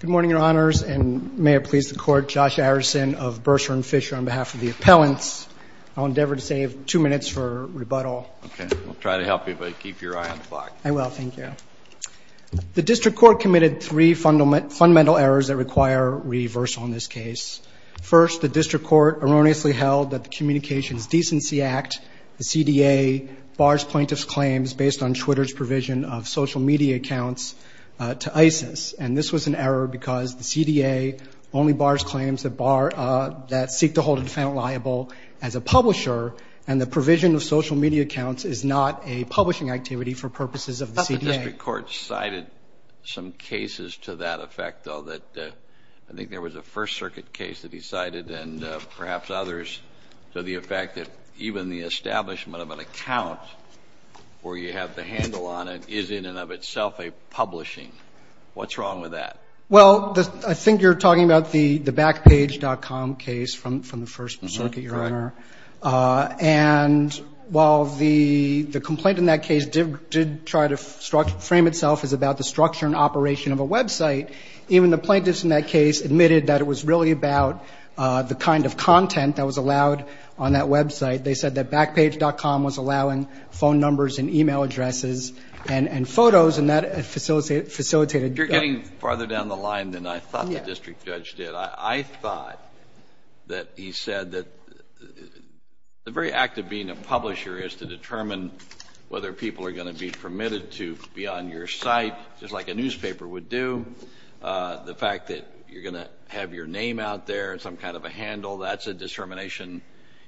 Good morning, Your Honors, and may it please the Court, Josh Arison of Bursar and Fisher on behalf of the appellants. I'll endeavor to save two minutes for rebuttal. Okay, we'll try to help you, but keep your eye on the clock. I will. Thank you. The District Court committed three fundamental errors that require reversal in this case. First, the District Court erroneously held that the Communications Decency Act, the CDA, bars plaintiffs' claims based on Twitter's provision of social media accounts to ISIS. And this was an error because the CDA only bars claims that seek to hold a defendant liable as a publisher, and the provision of social media accounts is not a publishing activity for purposes of the CDA. I thought the District Court cited some cases to that effect, though, that I think there was a First Circuit case that he cited and perhaps others to the effect that even the account where you have the handle on it is in and of itself a publishing. What's wrong with that? Well, I think you're talking about the Backpage.com case from the First Circuit, Your Honor. And while the complaint in that case did try to frame itself as about the structure and operation of a website, even the plaintiffs in that case admitted that it was really about the kind of content that was allowed on that website. They said that Backpage.com was allowing phone numbers and e-mail addresses and photos, and that facilitated. You're getting farther down the line than I thought the district judge did. I thought that he said that the very act of being a publisher is to determine whether people are going to be permitted to be on your site, just like a newspaper would do. The fact that you're going to have your name out there and some kind of a handle, that's a discrimination.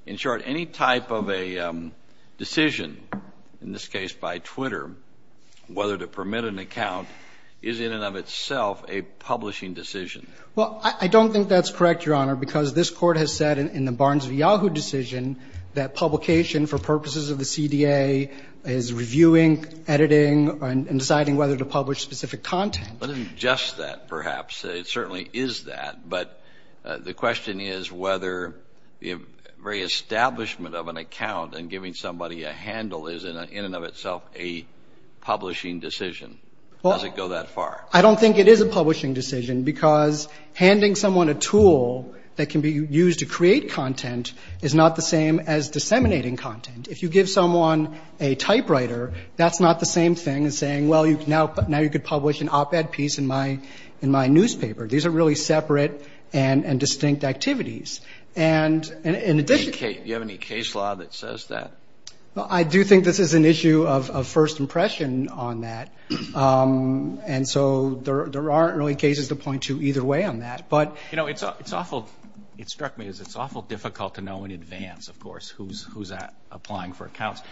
In short, any type of a decision, in this case by Twitter, whether to permit an account is in and of itself a publishing decision. Well, I don't think that's correct, Your Honor, because this Court has said in the Barnes v. Yahoo decision that publication for purposes of the CDA is reviewing, editing, and deciding whether to publish specific content. Well, it isn't just that, perhaps. It certainly is that, but the question is whether the very establishment of an account and giving somebody a handle is in and of itself a publishing decision. Does it go that far? I don't think it is a publishing decision, because handing someone a tool that can be used to create content is not the same as disseminating content. If you give someone a typewriter, that's not the same thing as saying, well, now you can publish an op-ed piece in my newspaper. These are really separate and distinct activities. And in addition... Do you have any case law that says that? Well, I do think this is an issue of first impression on that, and so there aren't really cases to point to either way on that, but... You know, it's awful, it struck me as it's awful difficult to know in advance, of course, who's applying for accounts.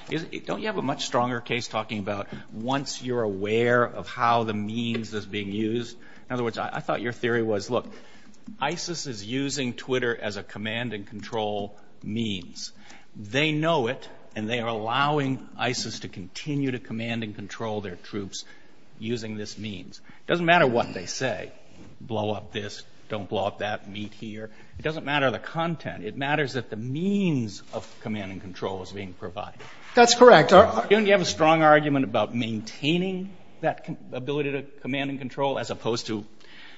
Don't you have a much stronger case talking about once you're aware of how the means is being used? In other words, I thought your theory was, look, ISIS is using Twitter as a command and control means. They know it, and they are allowing ISIS to continue to command and control their troops using this means. It doesn't matter what they say. Blow up this, don't blow up that, meet here. It doesn't matter the content. It matters that the means of command and control is being provided. That's correct. Don't you have a strong argument about maintaining that ability to command and control as opposed to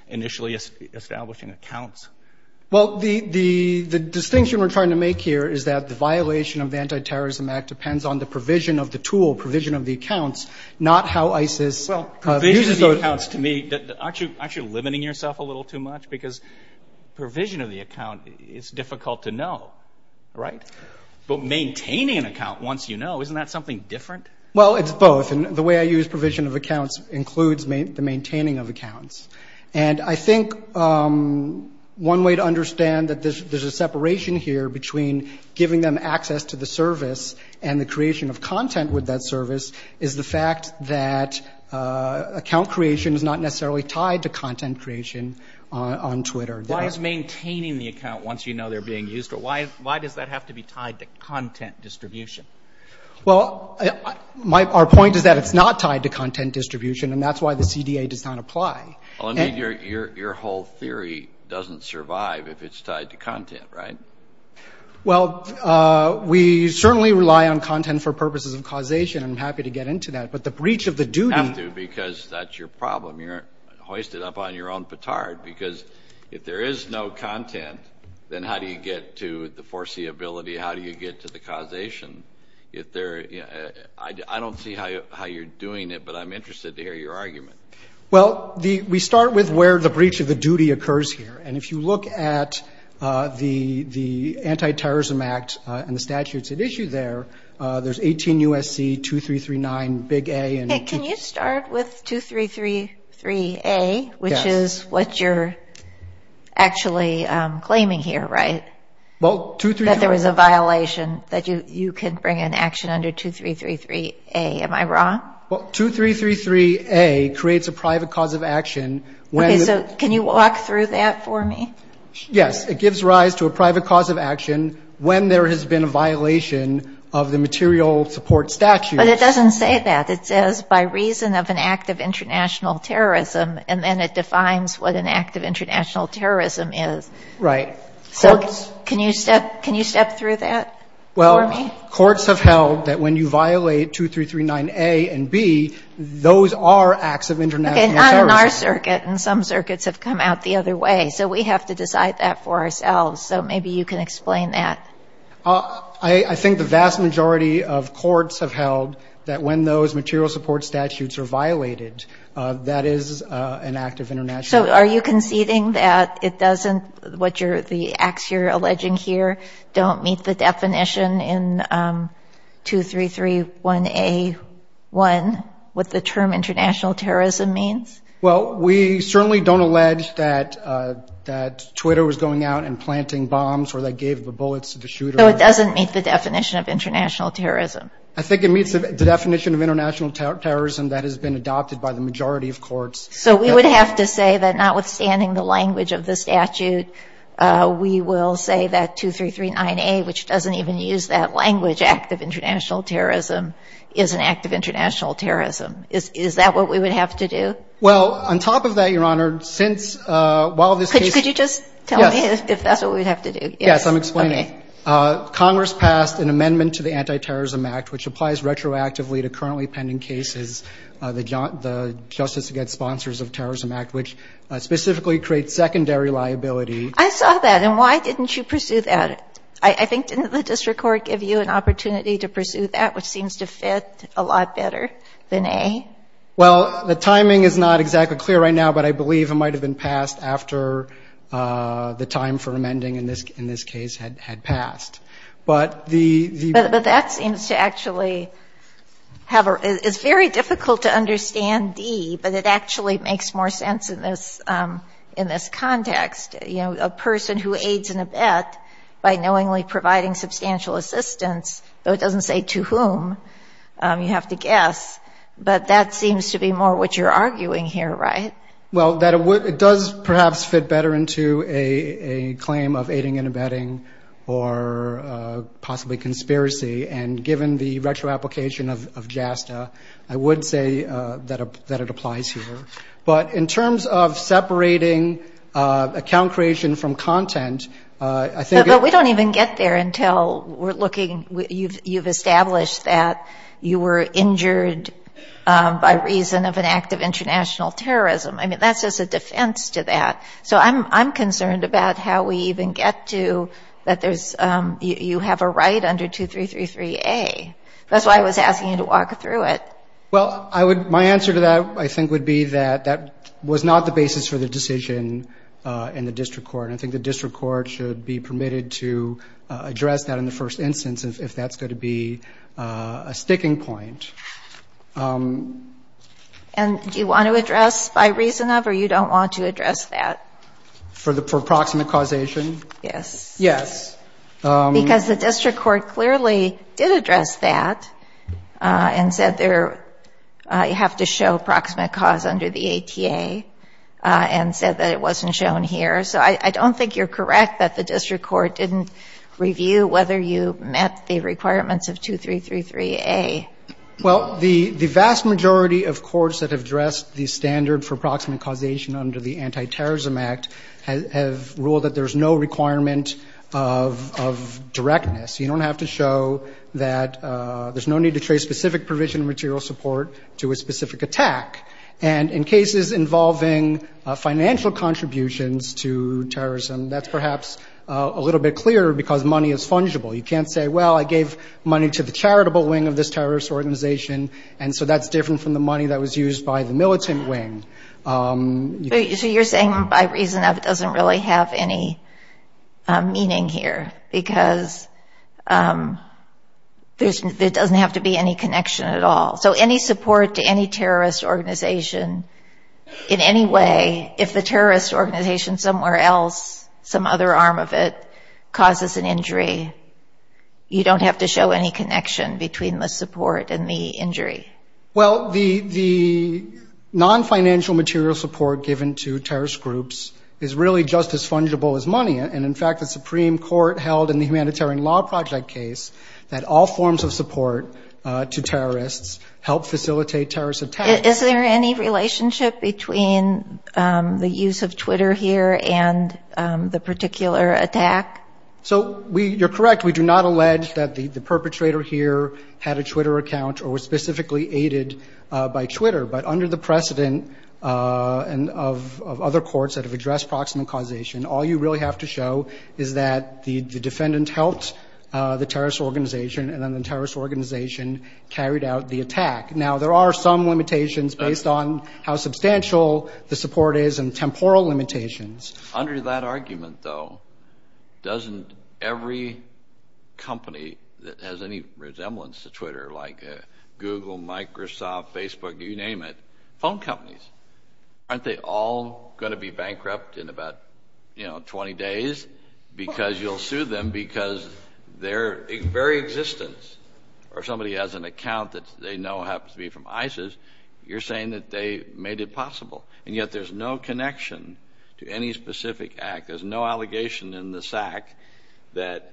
initially establishing accounts? Well, the distinction we're trying to make here is that the violation of the Anti-Terrorism Act depends on the provision of the tool, provision of the accounts, not how ISIS uses those. Well, provision of the accounts, to me, aren't you limiting yourself a little too much? Because provision of the account is difficult to know, right? But maintaining an account once you know, isn't that something different? Well, it's both. And the way I use provision of accounts includes the maintaining of accounts. And I think one way to understand that there's a separation here between giving them access to the service and the creation of content with that service is the fact that account creation is not necessarily tied to content creation on Twitter. Why is maintaining the account once you know they're being used? Why does that have to be tied to content distribution? Well, our point is that it's not tied to content distribution, and that's why the CDA does not apply. Your whole theory doesn't survive if it's tied to content, right? Well, we certainly rely on content for purposes of causation, and I'm happy to get into that. But the breach of the duty. You have to because that's your problem. You're hoisted up on your own petard because if there is no content, then how do you get to the foreseeability? How do you get to the causation? I don't see how you're doing it, but I'm interested to hear your argument. Well, we start with where the breach of the duty occurs here. And if you look at the Anti-Terrorism Act and the statutes at issue there, there's 18 U.S.C. 2339 big A. Can you start with 2333A, which is what you're actually claiming here, right? That there was a violation that you can bring an action under 2333A. Am I wrong? Well, 2333A creates a private cause of action. Okay. So can you walk through that for me? Yes. It gives rise to a private cause of action when there has been a violation of the material support statute. But it doesn't say that. It says by reason of an act of international terrorism, and then it defines what an act of international terrorism is. Right. So can you step through that for me? Well, courts have held that when you violate 2339A and B, those are acts of international terrorism. Okay, not in our circuit. And some circuits have come out the other way. So we have to decide that for ourselves. So maybe you can explain that. I think the vast majority of courts have held that when those material support statutes are violated, that is an act of international terrorism. So are you conceding that it doesn't, the acts you're alleging here don't meet the definition in 2331A.1, what the term international terrorism means? Well, we certainly don't allege that Twitter was going out and planting bombs or they gave the bullets to the shooter. So it doesn't meet the definition of international terrorism. I think it meets the definition of international terrorism that has been adopted by the majority of courts. So we would have to say that notwithstanding the language of the statute, we will say that 2339A, which doesn't even use that language, which is an act of international terrorism, is an act of international terrorism. Is that what we would have to do? Well, on top of that, Your Honor, since while this case. Could you just tell me if that's what we would have to do? Yes, I'm explaining. Congress passed an amendment to the Anti-Terrorism Act, which applies retroactively to currently pending cases, the Justice Against Sponsors of Terrorism Act, which specifically creates secondary liability. I saw that. And why didn't you pursue that? I think didn't the district court give you an opportunity to pursue that, which seems to fit a lot better than A? Well, the timing is not exactly clear right now, but I believe it might have been passed after the time for amending in this case had passed. But the ---- But that seems to actually have a ---- it's very difficult to understand D, but it actually makes more sense in this context. You know, a person who aids an abet by knowingly providing substantial assistance, though it doesn't say to whom, you have to guess. But that seems to be more what you're arguing here, right? Well, it does perhaps fit better into a claim of aiding and abetting or possibly conspiracy. And given the retroapplication of JASTA, I would say that it applies here. But in terms of separating account creation from content, I think ---- But we don't even get there until we're looking ---- you've established that you were injured by reason of an act of international terrorism. I mean, that's just a defense to that. So I'm concerned about how we even get to that there's ---- you have a right under 2333A. That's why I was asking you to walk through it. Well, I would ---- my answer to that, I think, would be that that was not the basis for the decision in the district court. I think the district court should be permitted to address that in the first instance if that's going to be a sticking point. And do you want to address by reason of or you don't want to address that? For the ---- for proximate causation? Yes. Yes. Because the district court clearly did address that and said there you have to show proximate cause under the ATA and said that it wasn't shown here. So I don't think you're correct that the district court didn't review whether you met the requirements of 2333A. Well, the vast majority of courts that have addressed the standard for proximate causation under the Anti-Terrorism Act have ruled that there's no requirement of directness. You don't have to show that there's no need to trace specific provision of material support to a specific attack. And in cases involving financial contributions to terrorism, that's perhaps a little bit clearer because money is fungible. You can't say, well, I gave money to the charitable wing of this terrorist organization, and so that's different from the money that was used by the militant wing. So you're saying by reason of it doesn't really have any meaning here because there doesn't have to be any connection at all. So any support to any terrorist organization in any way, if the terrorist organization somewhere else, some other arm of it, causes an injury, you don't have to show any connection between the support and the injury? Well, the non-financial material support given to terrorist groups is really just as fungible as money, and in fact the Supreme Court held in the Humanitarian Law Project case that all forms of support to terrorists help facilitate terrorist attacks. Is there any relationship between the use of Twitter here and the particular attack? So you're correct. We do not allege that the perpetrator here had a Twitter account or was specifically aided by Twitter, but under the precedent of other courts that have addressed proximate causation, all you really have to show is that the defendant helped the terrorist organization and then the terrorist organization carried out the attack. Now, there are some limitations based on how substantial the support is and temporal limitations. Under that argument, though, doesn't every company that has any resemblance to Twitter, like Google, Microsoft, Facebook, you name it, phone companies, aren't they all going to be bankrupt in about 20 days because you'll sue them because their very existence or somebody has an account that they know happens to be from ISIS, you're saying that they made it possible, and yet there's no connection to any specific act. There's no allegation in this act that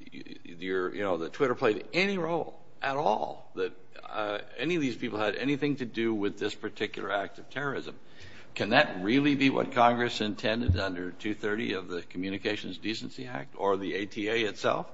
Twitter played any role at all, that any of these people had anything to do with this particular act of terrorism. Can that really be what Congress intended under 230 of the Communications Decency Act or the ATA itself?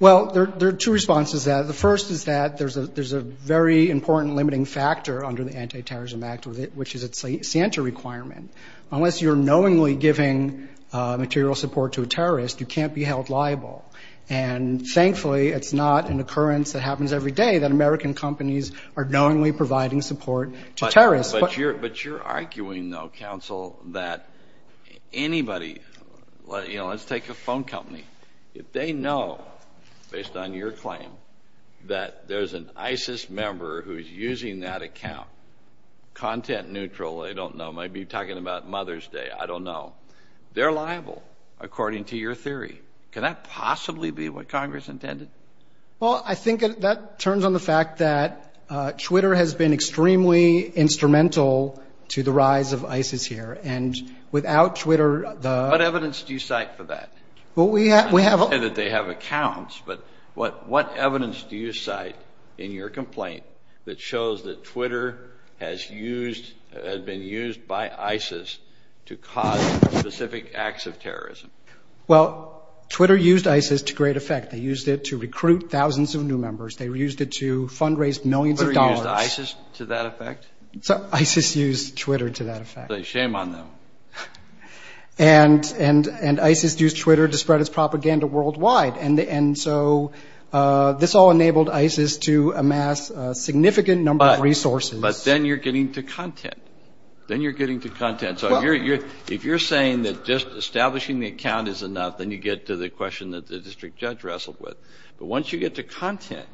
Well, there are two responses to that. The first is that there's a very important limiting factor under the Anti-Terrorism Act, which is its Santa requirement. Unless you're knowingly giving material support to a terrorist, you can't be held liable. And thankfully, it's not an occurrence that happens every day that American companies are knowingly providing support to terrorists. But you're arguing, though, counsel, that anybody, you know, let's take a phone company. If they know, based on your claim, that there's an ISIS member who's using that account, content neutral, they don't know, might be talking about Mother's Day, I don't know. They're liable, according to your theory. Can that possibly be what Congress intended? Well, I think that turns on the fact that Twitter has been extremely instrumental to the rise of ISIS here. And without Twitter, the – What evidence do you cite for that? Well, we have – Not that they have accounts, but what evidence do you cite in your complaint that shows that Twitter has used – has been used by ISIS to cause specific acts of terrorism? Well, Twitter used ISIS to great effect. They used it to recruit thousands of new members. They used it to fundraise millions of dollars. Twitter used ISIS to that effect? ISIS used Twitter to that effect. Shame on them. And ISIS used Twitter to spread its propaganda worldwide. And so this all enabled ISIS to amass a significant number of resources. But then you're getting to content. Then you're getting to content. So if you're saying that just establishing the account is enough, then you get to the question that the district judge wrestled with. But once you get to content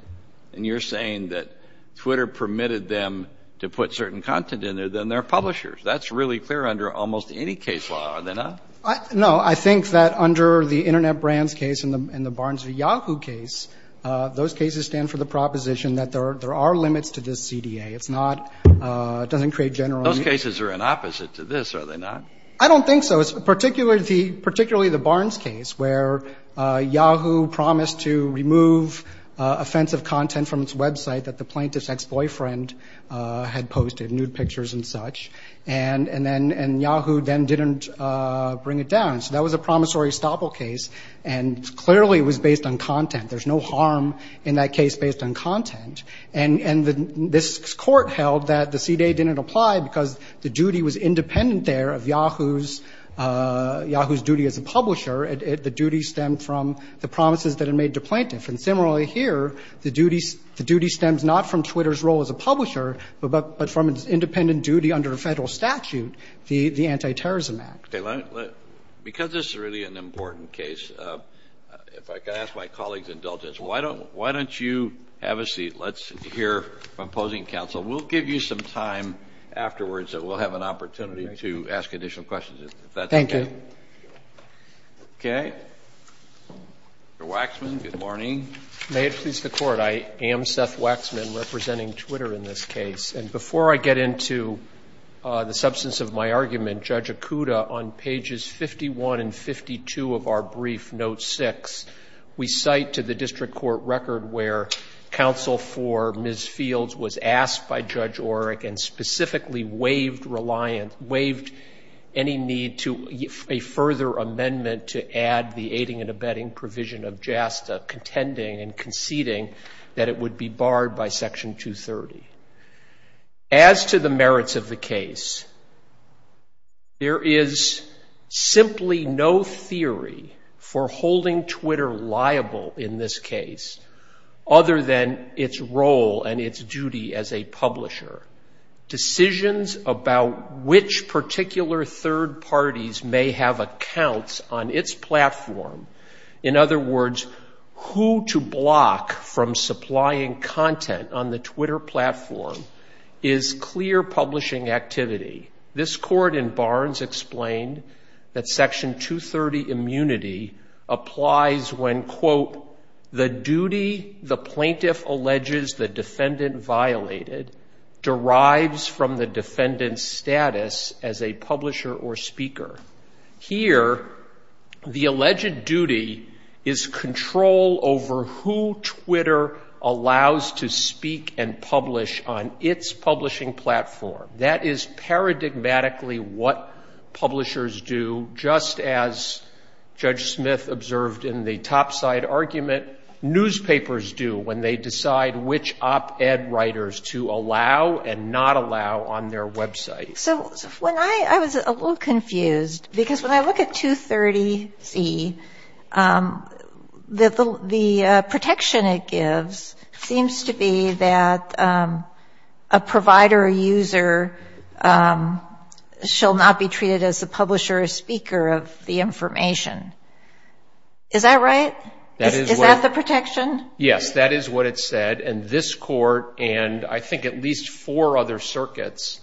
and you're saying that Twitter permitted them to put certain content in there, then they're publishers. That's really clear under almost any case law, are they not? No, I think that under the Internet Brands case and the Barnes v. Yahoo case, those cases stand for the proposition that there are limits to this CDA. It's not – it doesn't create general – Those cases are an opposite to this, are they not? I don't think so. It's particularly the Barnes case where Yahoo promised to remove offensive content from its website that the plaintiff's ex-boyfriend had posted, nude pictures and such. And Yahoo then didn't bring it down. So that was a promissory estoppel case, and clearly it was based on content. There's no harm in that case based on content. And this court held that the CDA didn't apply because the duty was independent there of Yahoo's duty as a publisher. The duty stemmed from the promises that it made to plaintiff. And similarly here, the duty stems not from Twitter's role as a publisher, but from its independent duty under Federal statute, the Anti-Terrorism Act. Okay. Because this is really an important case, if I could ask my colleagues' indulgence, why don't you have a seat? Let's hear from opposing counsel. We'll give you some time afterwards that we'll have an opportunity to ask additional questions, if that's okay. Thank you. Okay. Mr. Waxman, good morning. May it please the Court. I am Seth Waxman, representing Twitter in this case. And before I get into the substance of my argument, Judge Okuda, on pages 51 and 52 of our brief, note 6, we cite to the district court record where counsel for Ms. Fields was asked by Judge Orrick and specifically waived reliance, waived any need to a further amendment to add the aiding and abetting provision of JASTA, contending and conceding that it would be barred by Section 230. As to the merits of the case, there is simply no theory for holding Twitter liable in this case, other than its role and its duty as a publisher. Decisions about which particular third parties may have accounts on its platform, in other words, who to block from supplying content on the Twitter platform, is clear publishing activity. This Court in Barnes explained that Section 230 immunity applies when, quote, the duty the plaintiff alleges the defendant violated derives from the defendant's status as a publisher or speaker. Here, the alleged duty is control over who Twitter allows to speak and publish on its publishing platform. That is paradigmatically what publishers do, just as Judge Smith observed in the topside argument, newspapers do when they decide which op-ed writers to allow and not allow on their website. So when I was a little confused, because when I look at 230C, the protection it gives seems to be that a provider or user shall not be treated as the publisher or speaker of the information. Is that right? Is that the protection? Yes, that is what it said. And this Court and I think at least four other circuits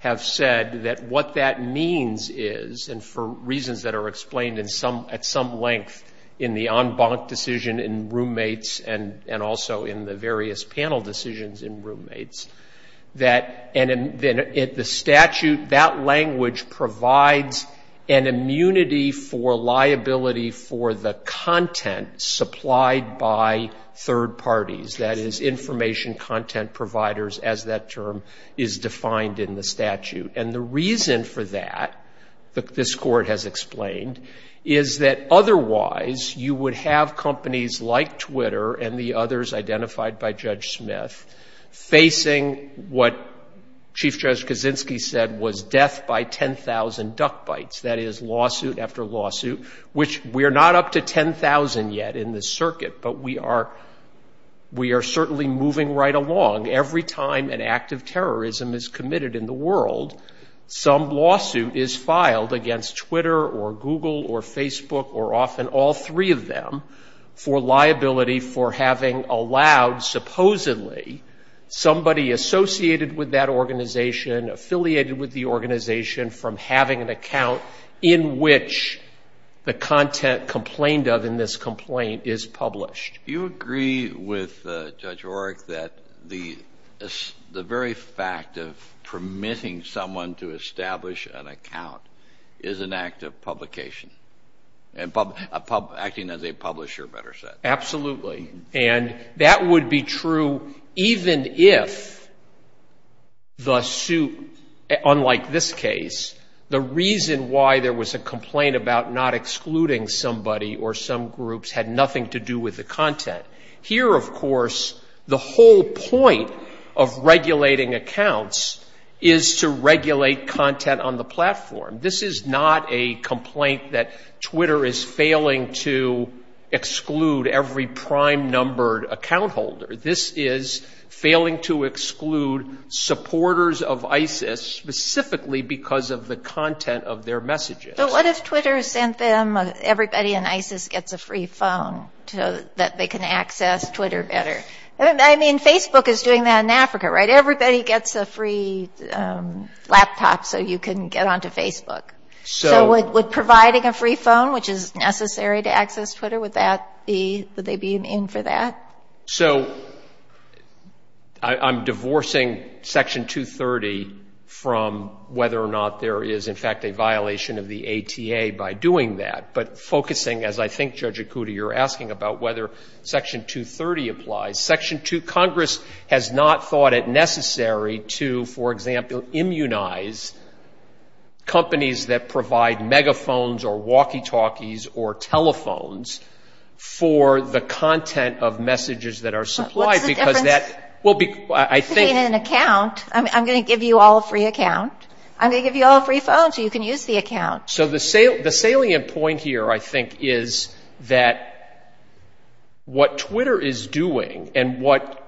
have said that what that means is, and for reasons that are explained at some length in the en banc decision in roommates and also in the various panel decisions in roommates, that the statute, that language provides an immunity for liability for the content supplied by third parties. That is, information content providers, as that term is defined in the statute. And the reason for that, this Court has explained, is that otherwise you would have companies like Twitter and the others identified by Judge Smith facing what Chief Judge Kaczynski said was death by 10,000 duck bites. That is, lawsuit after lawsuit, which we are not up to 10,000 yet in this circuit, but we are certainly moving right along. Every time an act of terrorism is committed in the world, some lawsuit is filed against Twitter or Google or Facebook or often all three of them for liability for having allowed, supposedly, somebody associated with that organization, affiliated with the organization, from having an account in which the content complained of in this complaint is published. Do you agree with Judge Oreck that the very fact of permitting someone to establish an account is an act of publication, acting as a publisher, better said? Absolutely. And that would be true even if the suit, unlike this case, the reason why there was a complaint about not excluding somebody or some groups had nothing to do with the content. Here, of course, the whole point of regulating accounts is to regulate content on the platform. This is not a complaint that Twitter is failing to exclude every prime numbered account holder. This is failing to exclude supporters of ISIS specifically because of the content of their messages. But what if Twitter sent them, everybody in ISIS gets a free phone so that they can access Twitter better? I mean, Facebook is doing that in Africa, right? Everybody gets a free laptop so you can get onto Facebook. So would providing a free phone, which is necessary to access Twitter, would that be, would they be in for that? So I'm divorcing Section 230 from whether or not there is, in fact, a violation of the ATA by doing that. But focusing, as I think, Judge Akuta, you're asking about whether Section 230 applies. Section 230, Congress has not thought it necessary to, for example, immunize companies that provide megaphones or walkie-talkies or telephones for the content of messages that are supplied. What's the difference between an account? I'm going to give you all a free account. I'm going to give you all a free phone so you can use the account. So the salient point here, I think, is that what Twitter is doing and what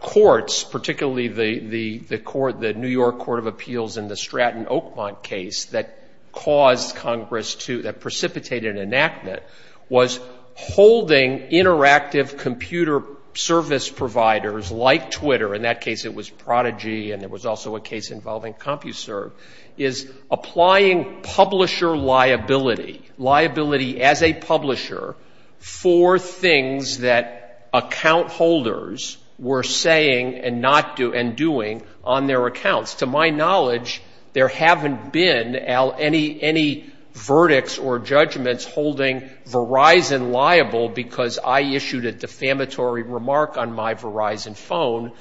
courts, particularly the New York Court of Appeals in the Stratton-Oakmont case that caused Congress to, that precipitated an enactment, was holding interactive computer service providers like Twitter, in that case it was Prodigy and there was also a case involving CompuServe, is applying publisher liability, liability as a publisher for things that account holders were saying and doing on their accounts. To my knowledge, there haven't been, Al, any verdicts or judgments holding Verizon liable because I issued a defamatory remark on my Verizon phone.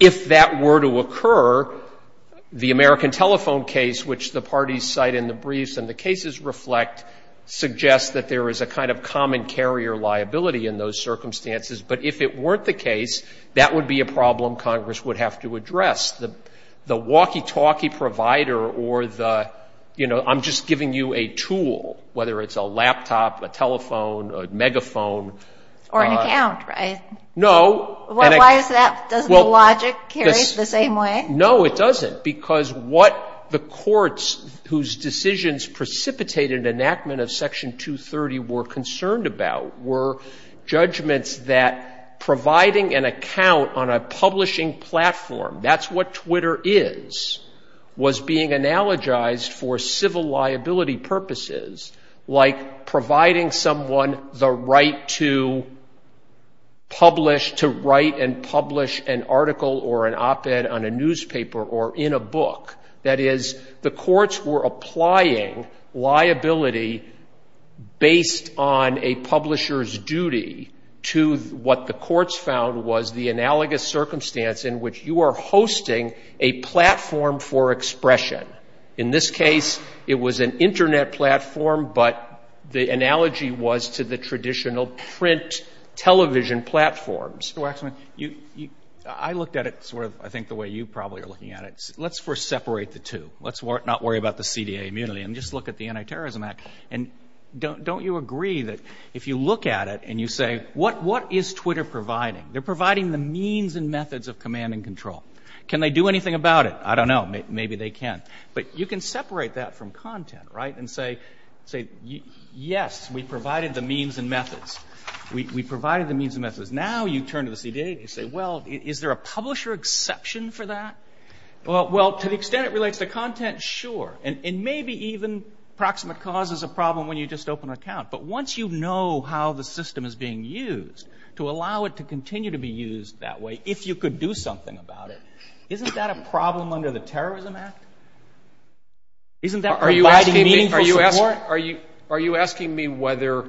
If that were to occur, the American Telephone case, which the parties cite in the briefs and the cases reflect, suggests that there is a kind of common carrier liability in those circumstances. But if it weren't the case, that would be a problem Congress would have to address. The walkie-talkie provider or the, you know, I'm just giving you a tool, whether it's a laptop, a telephone, a megaphone. Or an account, right? No. Why is that? Doesn't the logic carry the same way? No, it doesn't. Because what the courts whose decisions precipitated enactment of Section 230 were concerned about were judgments that providing an account on a publishing platform, that's what Twitter is, was being analogized for civil liability purposes, like providing someone the right to publish, to write and publish an article or an op-ed on a newspaper or in a book. That is, the courts were applying liability based on a publisher's duty to what the courts found was the analogous circumstance in which you are hosting a platform for expression. In this case, it was an Internet platform, but the analogy was to the traditional print television platforms. Mr. Waxman, I looked at it sort of, I think, the way you probably are looking at it. Let's first separate the two. Let's not worry about the CDA immunity and just look at the Anti-Terrorism Act. Don't you agree that if you look at it and you say, what is Twitter providing? They're providing the means and methods of command and control. Can they do anything about it? I don't know. Maybe they can. But you can separate that from content and say, yes, we provided the means and methods. Now you turn to the CDA and say, well, is there a publisher exception for that? Well, to the extent it relates to content, sure. And maybe even proximate cause is a problem when you just open an account. But once you know how the system is being used, to allow it to continue to be used that way, if you could do something about it, isn't that a problem under the Terrorism Act? Isn't that providing meaningful support? Are you asking me whether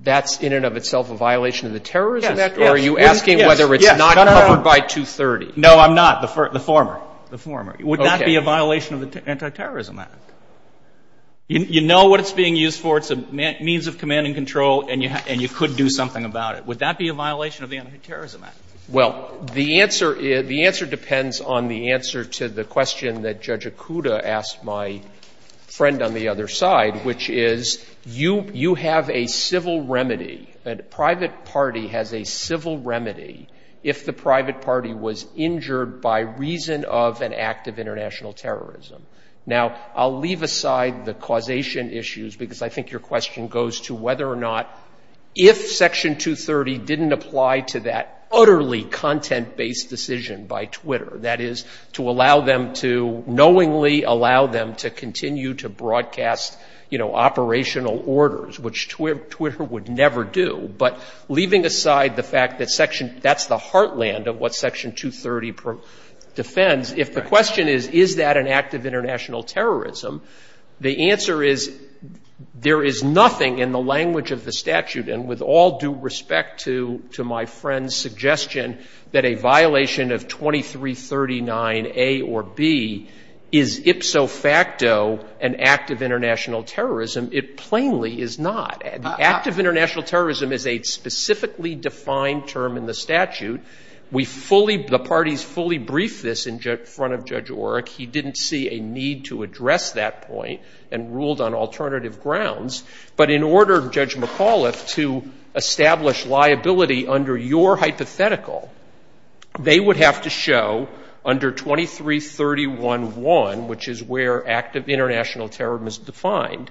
that's in and of itself a violation of the Terrorism Act? Or are you asking whether it's not covered by 230? No, I'm not. The former. The former. Would that be a violation of the Anti-Terrorism Act? You know what it's being used for. It's a means of command and control, and you could do something about it. Would that be a violation of the Anti-Terrorism Act? Well, the answer depends on the answer to the question that Judge Okuda asked my friend on the other side, which is you have a civil remedy. A private party has a civil remedy if the private party was injured by reason of an act of international terrorism. Now, I'll leave aside the causation issues because I think your question goes to whether or not, if Section 230 didn't apply to that utterly content-based decision by Twitter, that is to allow them to knowingly allow them to continue to broadcast, you know, But leaving aside the fact that that's the heartland of what Section 230 defends, if the question is, is that an act of international terrorism, the answer is there is nothing in the language of the statute, and with all due respect to my friend's suggestion that a violation of 2339A or B is ipso facto an act of international terrorism, it plainly is not. The act of international terrorism is a specifically defined term in the statute. We fully, the parties fully briefed this in front of Judge Orrick. He didn't see a need to address that point and ruled on alternative grounds. But in order, Judge McAuliffe, to establish liability under your hypothetical, they would have to show under 2331.1, which is where act of international terrorism is defined,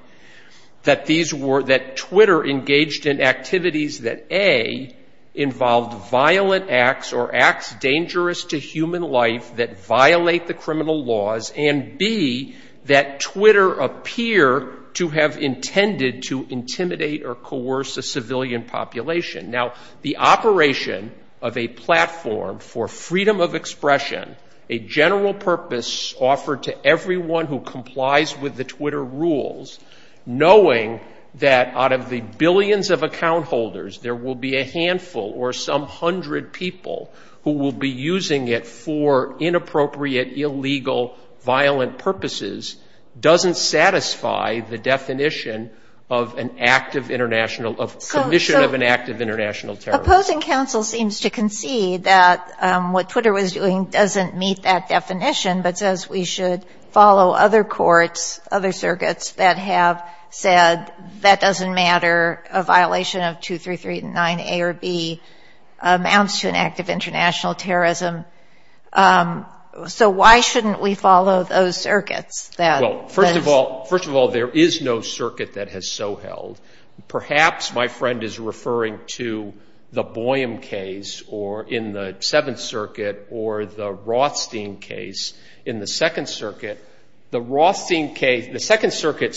that Twitter engaged in activities that, A, involved violent acts or acts dangerous to human life that violate the criminal laws, and, B, that Twitter appear to have intended to intimidate or coerce a civilian population. Now, the operation of a platform for freedom of expression, a general purpose offered to everyone who complies with the Twitter rules, knowing that out of the billions of account holders there will be a handful or some hundred people who will be using it for inappropriate, illegal, violent purposes, doesn't satisfy the definition of an act of international, of commission of an act of international terrorism. But the opposing counsel seems to concede that what Twitter was doing doesn't meet that definition, but says we should follow other courts, other circuits that have said that doesn't matter, a violation of 2339A or B amounts to an act of international terrorism. So why shouldn't we follow those circuits that ‑‑ Well, first of all, first of all, there is no circuit that has so held. Perhaps my friend is referring to the Boyam case or in the Seventh Circuit or the Rothstein case in the Second Circuit. The Rothstein case ‑‑ the Second Circuit,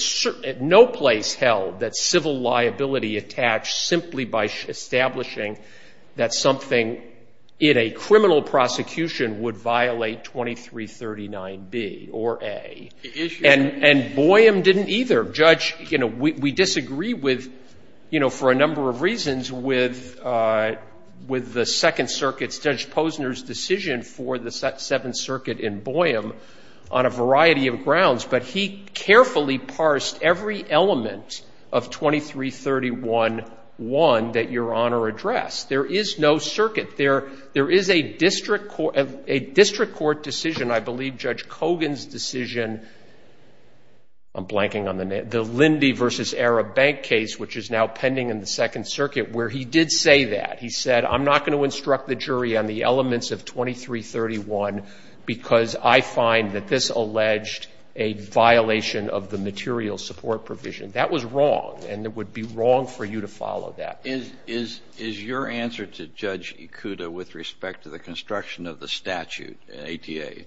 no place held that civil liability attached simply by establishing that something in a criminal prosecution would violate 2339B or A. And Boyam didn't either. Judge, you know, we disagree with, you know, for a number of reasons with the Second Circuit, Judge Posner's decision for the Seventh Circuit in Boyam on a variety of grounds, but he carefully parsed every element of 2331.1 that Your Honor addressed. There is no circuit. There is a district court decision, I believe Judge Kogan's decision, I'm blanking on the name, the Lindy v. Arab Bank case, which is now pending in the Second Circuit, where he did say that. He said, I'm not going to instruct the jury on the elements of 2331 because I find that this alleged a violation of the material support provision. That was wrong, and it would be wrong for you to follow that. Is your answer to Judge Ikuda with respect to the construction of the statute, an ATA,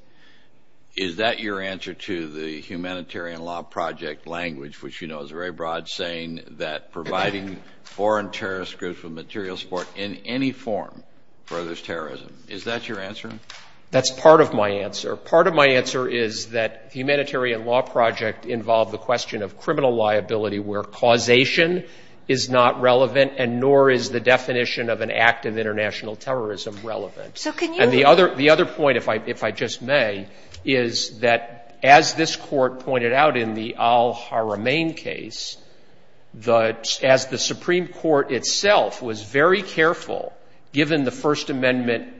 is that your answer to the Humanitarian Law Project language, which you know is very broad, saying that providing foreign terrorist groups with material support in any form furthers terrorism? Is that your answer? That's part of my answer. Part of my answer is that the Humanitarian Law Project involved the question of criminal liability where causation is not relevant and nor is the definition of an act of international terrorism relevant. And the other point, if I just may, is that as this Court pointed out in the al-Haramain case, as the Supreme Court itself was very careful, given the First Amendment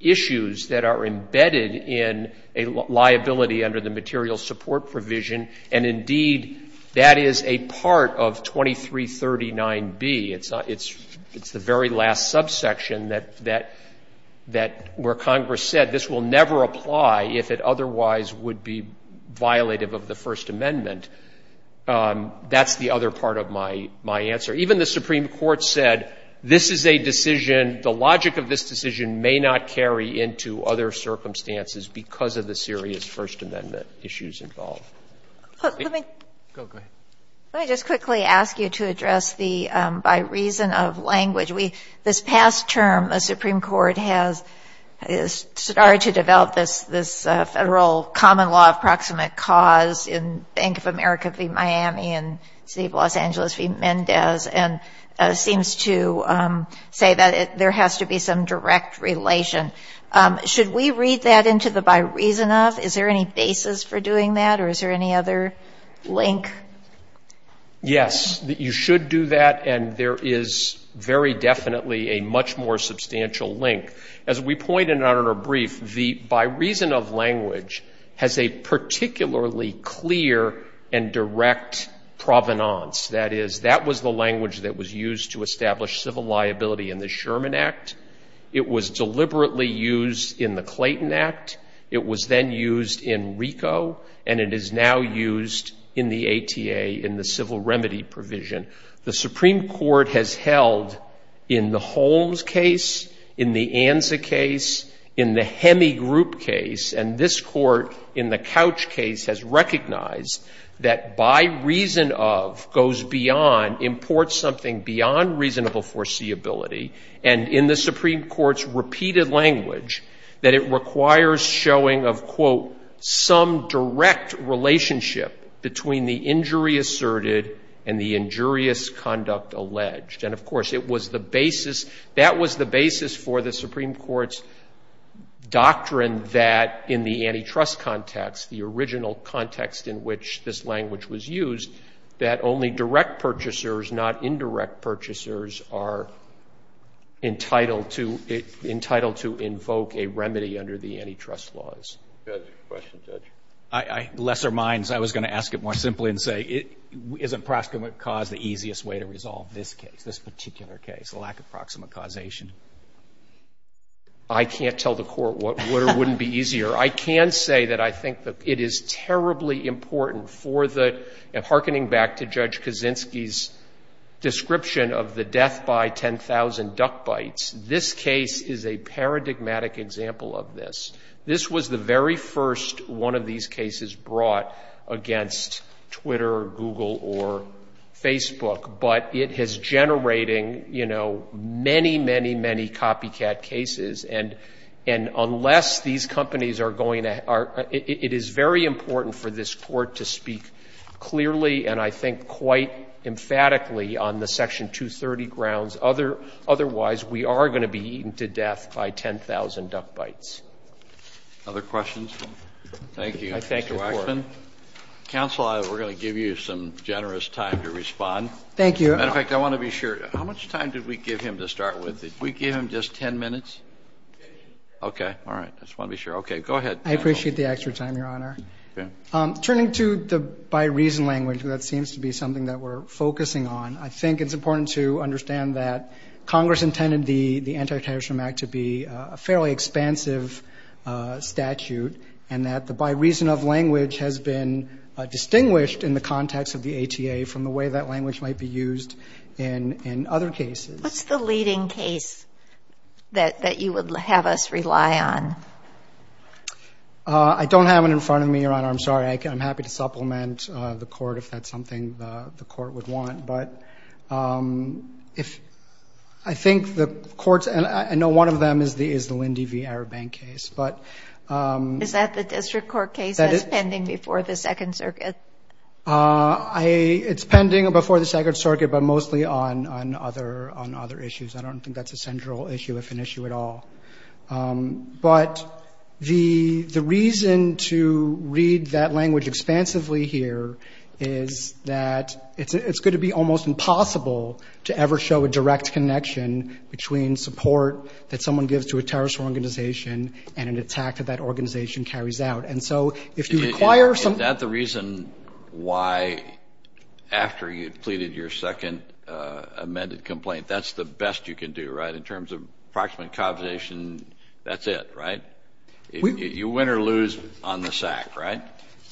issues that are embedded in a liability under the material support provision, and indeed that is a part of 2339b. It's the very last subsection where Congress said this will never apply if it otherwise would be violative of the First Amendment. That's the other part of my answer. Even the Supreme Court said this is a decision, the logic of this decision may not carry into other circumstances because of the serious First Amendment issues involved. Let me just quickly ask you to address the by reason of language. This past term, the Supreme Court has started to develop this federal common law of proximate cause in Bank of America v. Miami and City of Los Angeles v. Mendez and seems to say that there has to be some direct relation. Should we read that into the by reason of? Is there any basis for doing that or is there any other link? Yes, you should do that and there is very definitely a much more substantial link. As we pointed out in our brief, the by reason of language has a particularly clear and direct provenance. That is, that was the language that was used to establish civil liability in the Sherman Act. It was deliberately used in the Clayton Act. It was then used in RICO and it is now used in the ATA, in the civil remedy provision. The Supreme Court has held in the Holmes case, in the Anza case, in the Hemi Group case, and this Court in the Couch case has recognized that by reason of goes beyond, imports something beyond reasonable foreseeability and in the Supreme Court's repeated language that it requires showing of, quote, some direct relationship between the injury asserted and the injurious conduct alleged. And, of course, it was the basis, that was the basis for the Supreme Court's doctrine that in the antitrust context, the original context in which this language was used, that only direct purchasers, not indirect purchasers, are entitled to, entitled to invoke a remedy under the antitrust laws. Roberts. I, in lesser minds, I was going to ask it more simply and say, isn't proximate cause the easiest way to resolve this case, this particular case, the lack of proximate causation? I can't tell the Court what wouldn't be easier. I can say that I think it is terribly important for the, hearkening back to Judge Kaczynski's description of the death by 10,000 duck bites, this case is a paradigmatic example of this. This was the very first one of these cases brought against Twitter or Google or Facebook. But it is generating, you know, many, many, many copycat cases. And unless these companies are going to, it is very important for this Court to speak clearly and I think quite emphatically on the Section 230 grounds. Otherwise, we are going to be eaten to death by 10,000 duck bites. Roberts. Other questions? Thank you, Mr. Waxman. Counsel, we're going to give you some generous time to respond. Thank you. As a matter of fact, I want to be sure. How much time did we give him to start with? Did we give him just 10 minutes? Okay. All right. I just want to be sure. Okay. Go ahead, counsel. I appreciate the extra time, Your Honor. Okay. Turning to the by reason language, that seems to be something that we're focusing on. I think it's important to understand that Congress intended the Anti-Titration Act to be a fairly expansive statute and that the by reason of language has been distinguished in the context of the ATA from the way that language might be used in other cases. What's the leading case that you would have us rely on? I don't have it in front of me, Your Honor. I'm sorry. I'm happy to supplement the court if that's something the court would want. But I think the courts, and I know one of them is the Lindy v. Arabank case. Is that the district court case that's pending before the Second Circuit? It's pending before the Second Circuit, but mostly on other issues. I don't think that's a central issue, if an issue at all. But the reason to read that language expansively here is that it's going to be almost impossible to ever show a direct connection between support that someone gives to a terrorist organization and an attack that that organization carries out. And so if you require some – And why, after you've pleaded your second amended complaint, that's the best you can do, right? In terms of approximate causation, that's it, right? You win or lose on the sack, right?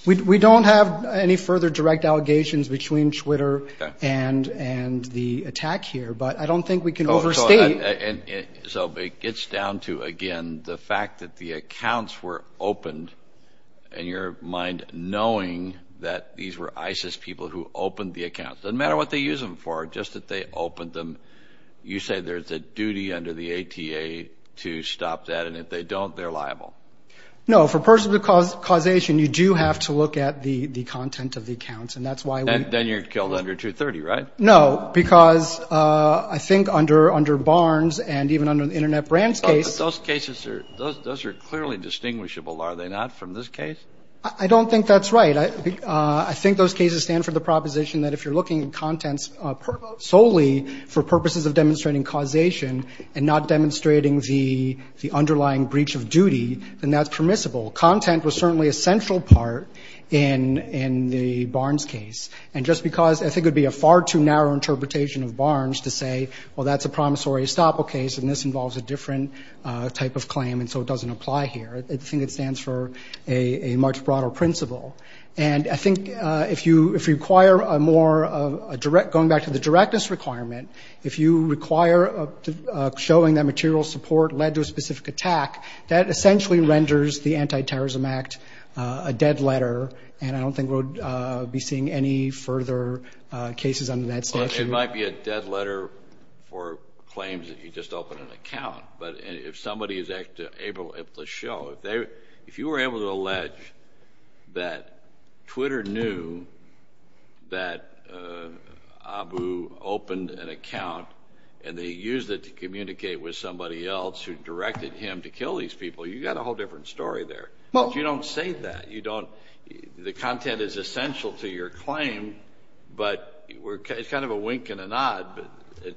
We don't have any further direct allegations between Twitter and the attack here, but I don't think we can overstate – So it gets down to, again, the fact that the accounts were opened, and your mind knowing that these were ISIS people who opened the accounts. It doesn't matter what they use them for, just that they opened them. You say there's a duty under the ATA to stop that, and if they don't, they're liable. No, for personal causation, you do have to look at the content of the accounts, and that's why we – Then you're killed under 230, right? No, because I think under Barnes and even under the Internet Brands case – Those cases are – those are clearly distinguishable, are they not, from this case? I don't think that's right. I think those cases stand for the proposition that if you're looking at contents solely for purposes of demonstrating causation and not demonstrating the underlying breach of duty, then that's permissible. Content was certainly a central part in the Barnes case, and just because – I think it would be a far too narrow interpretation of Barnes to say, well, that's a promissory estoppel case, and this involves a different type of claim, and so it doesn't apply here. I think it stands for a much broader principle. And I think if you require a more – going back to the directness requirement, if you require showing that material support led to a specific attack, that essentially renders the Anti-Terrorism Act a dead letter, and I don't think we'll be seeing any further cases under that statute. It might be a dead letter for claims that you just opened an account, but if somebody is able to show – if you were able to allege that Twitter knew that Abu opened an account and they used it to communicate with somebody else who directed him to kill these people, you've got a whole different story there. But you don't say that. The content is essential to your claim, but it's kind of a wink and a nod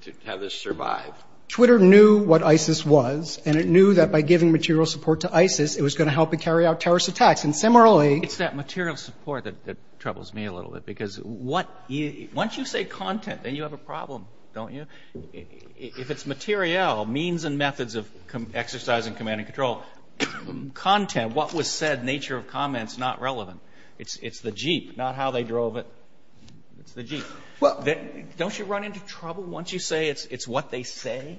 to have this survive. Twitter knew what ISIS was, and it knew that by giving material support to ISIS, it was going to help it carry out terrorist attacks. And similarly – It's that material support that troubles me a little bit, because once you say content, then you have a problem, don't you? If it's materiel, means and methods of exercising command and control, content, and what was said, nature of comments, not relevant. It's the Jeep, not how they drove it. It's the Jeep. Don't you run into trouble once you say it's what they say?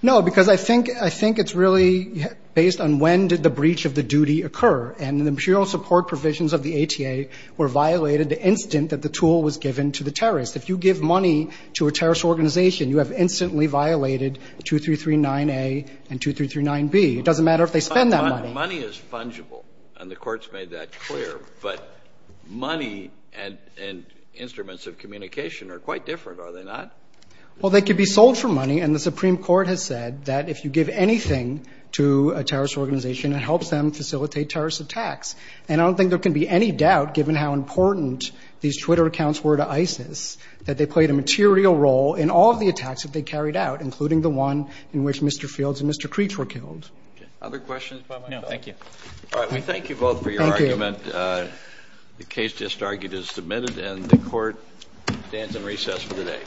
No, because I think it's really based on when did the breach of the duty occur. And the material support provisions of the ATA were violated the instant that the tool was given to the terrorist. If you give money to a terrorist organization, you have instantly violated 2339A and 2339B. It doesn't matter if they spend that money. Money is fungible, and the Court's made that clear. But money and instruments of communication are quite different, are they not? Well, they could be sold for money, and the Supreme Court has said that if you give anything to a terrorist organization, it helps them facilitate terrorist attacks. And I don't think there can be any doubt, given how important these Twitter accounts were to ISIS, that they played a material role in all of the attacks that they carried out, including the one in which Mr. Fields and Mr. Creech were killed. Other questions by myself? No, thank you. All right, we thank you both for your argument. Thank you. The case just argued is submitted, and the Court stands in recess for the day.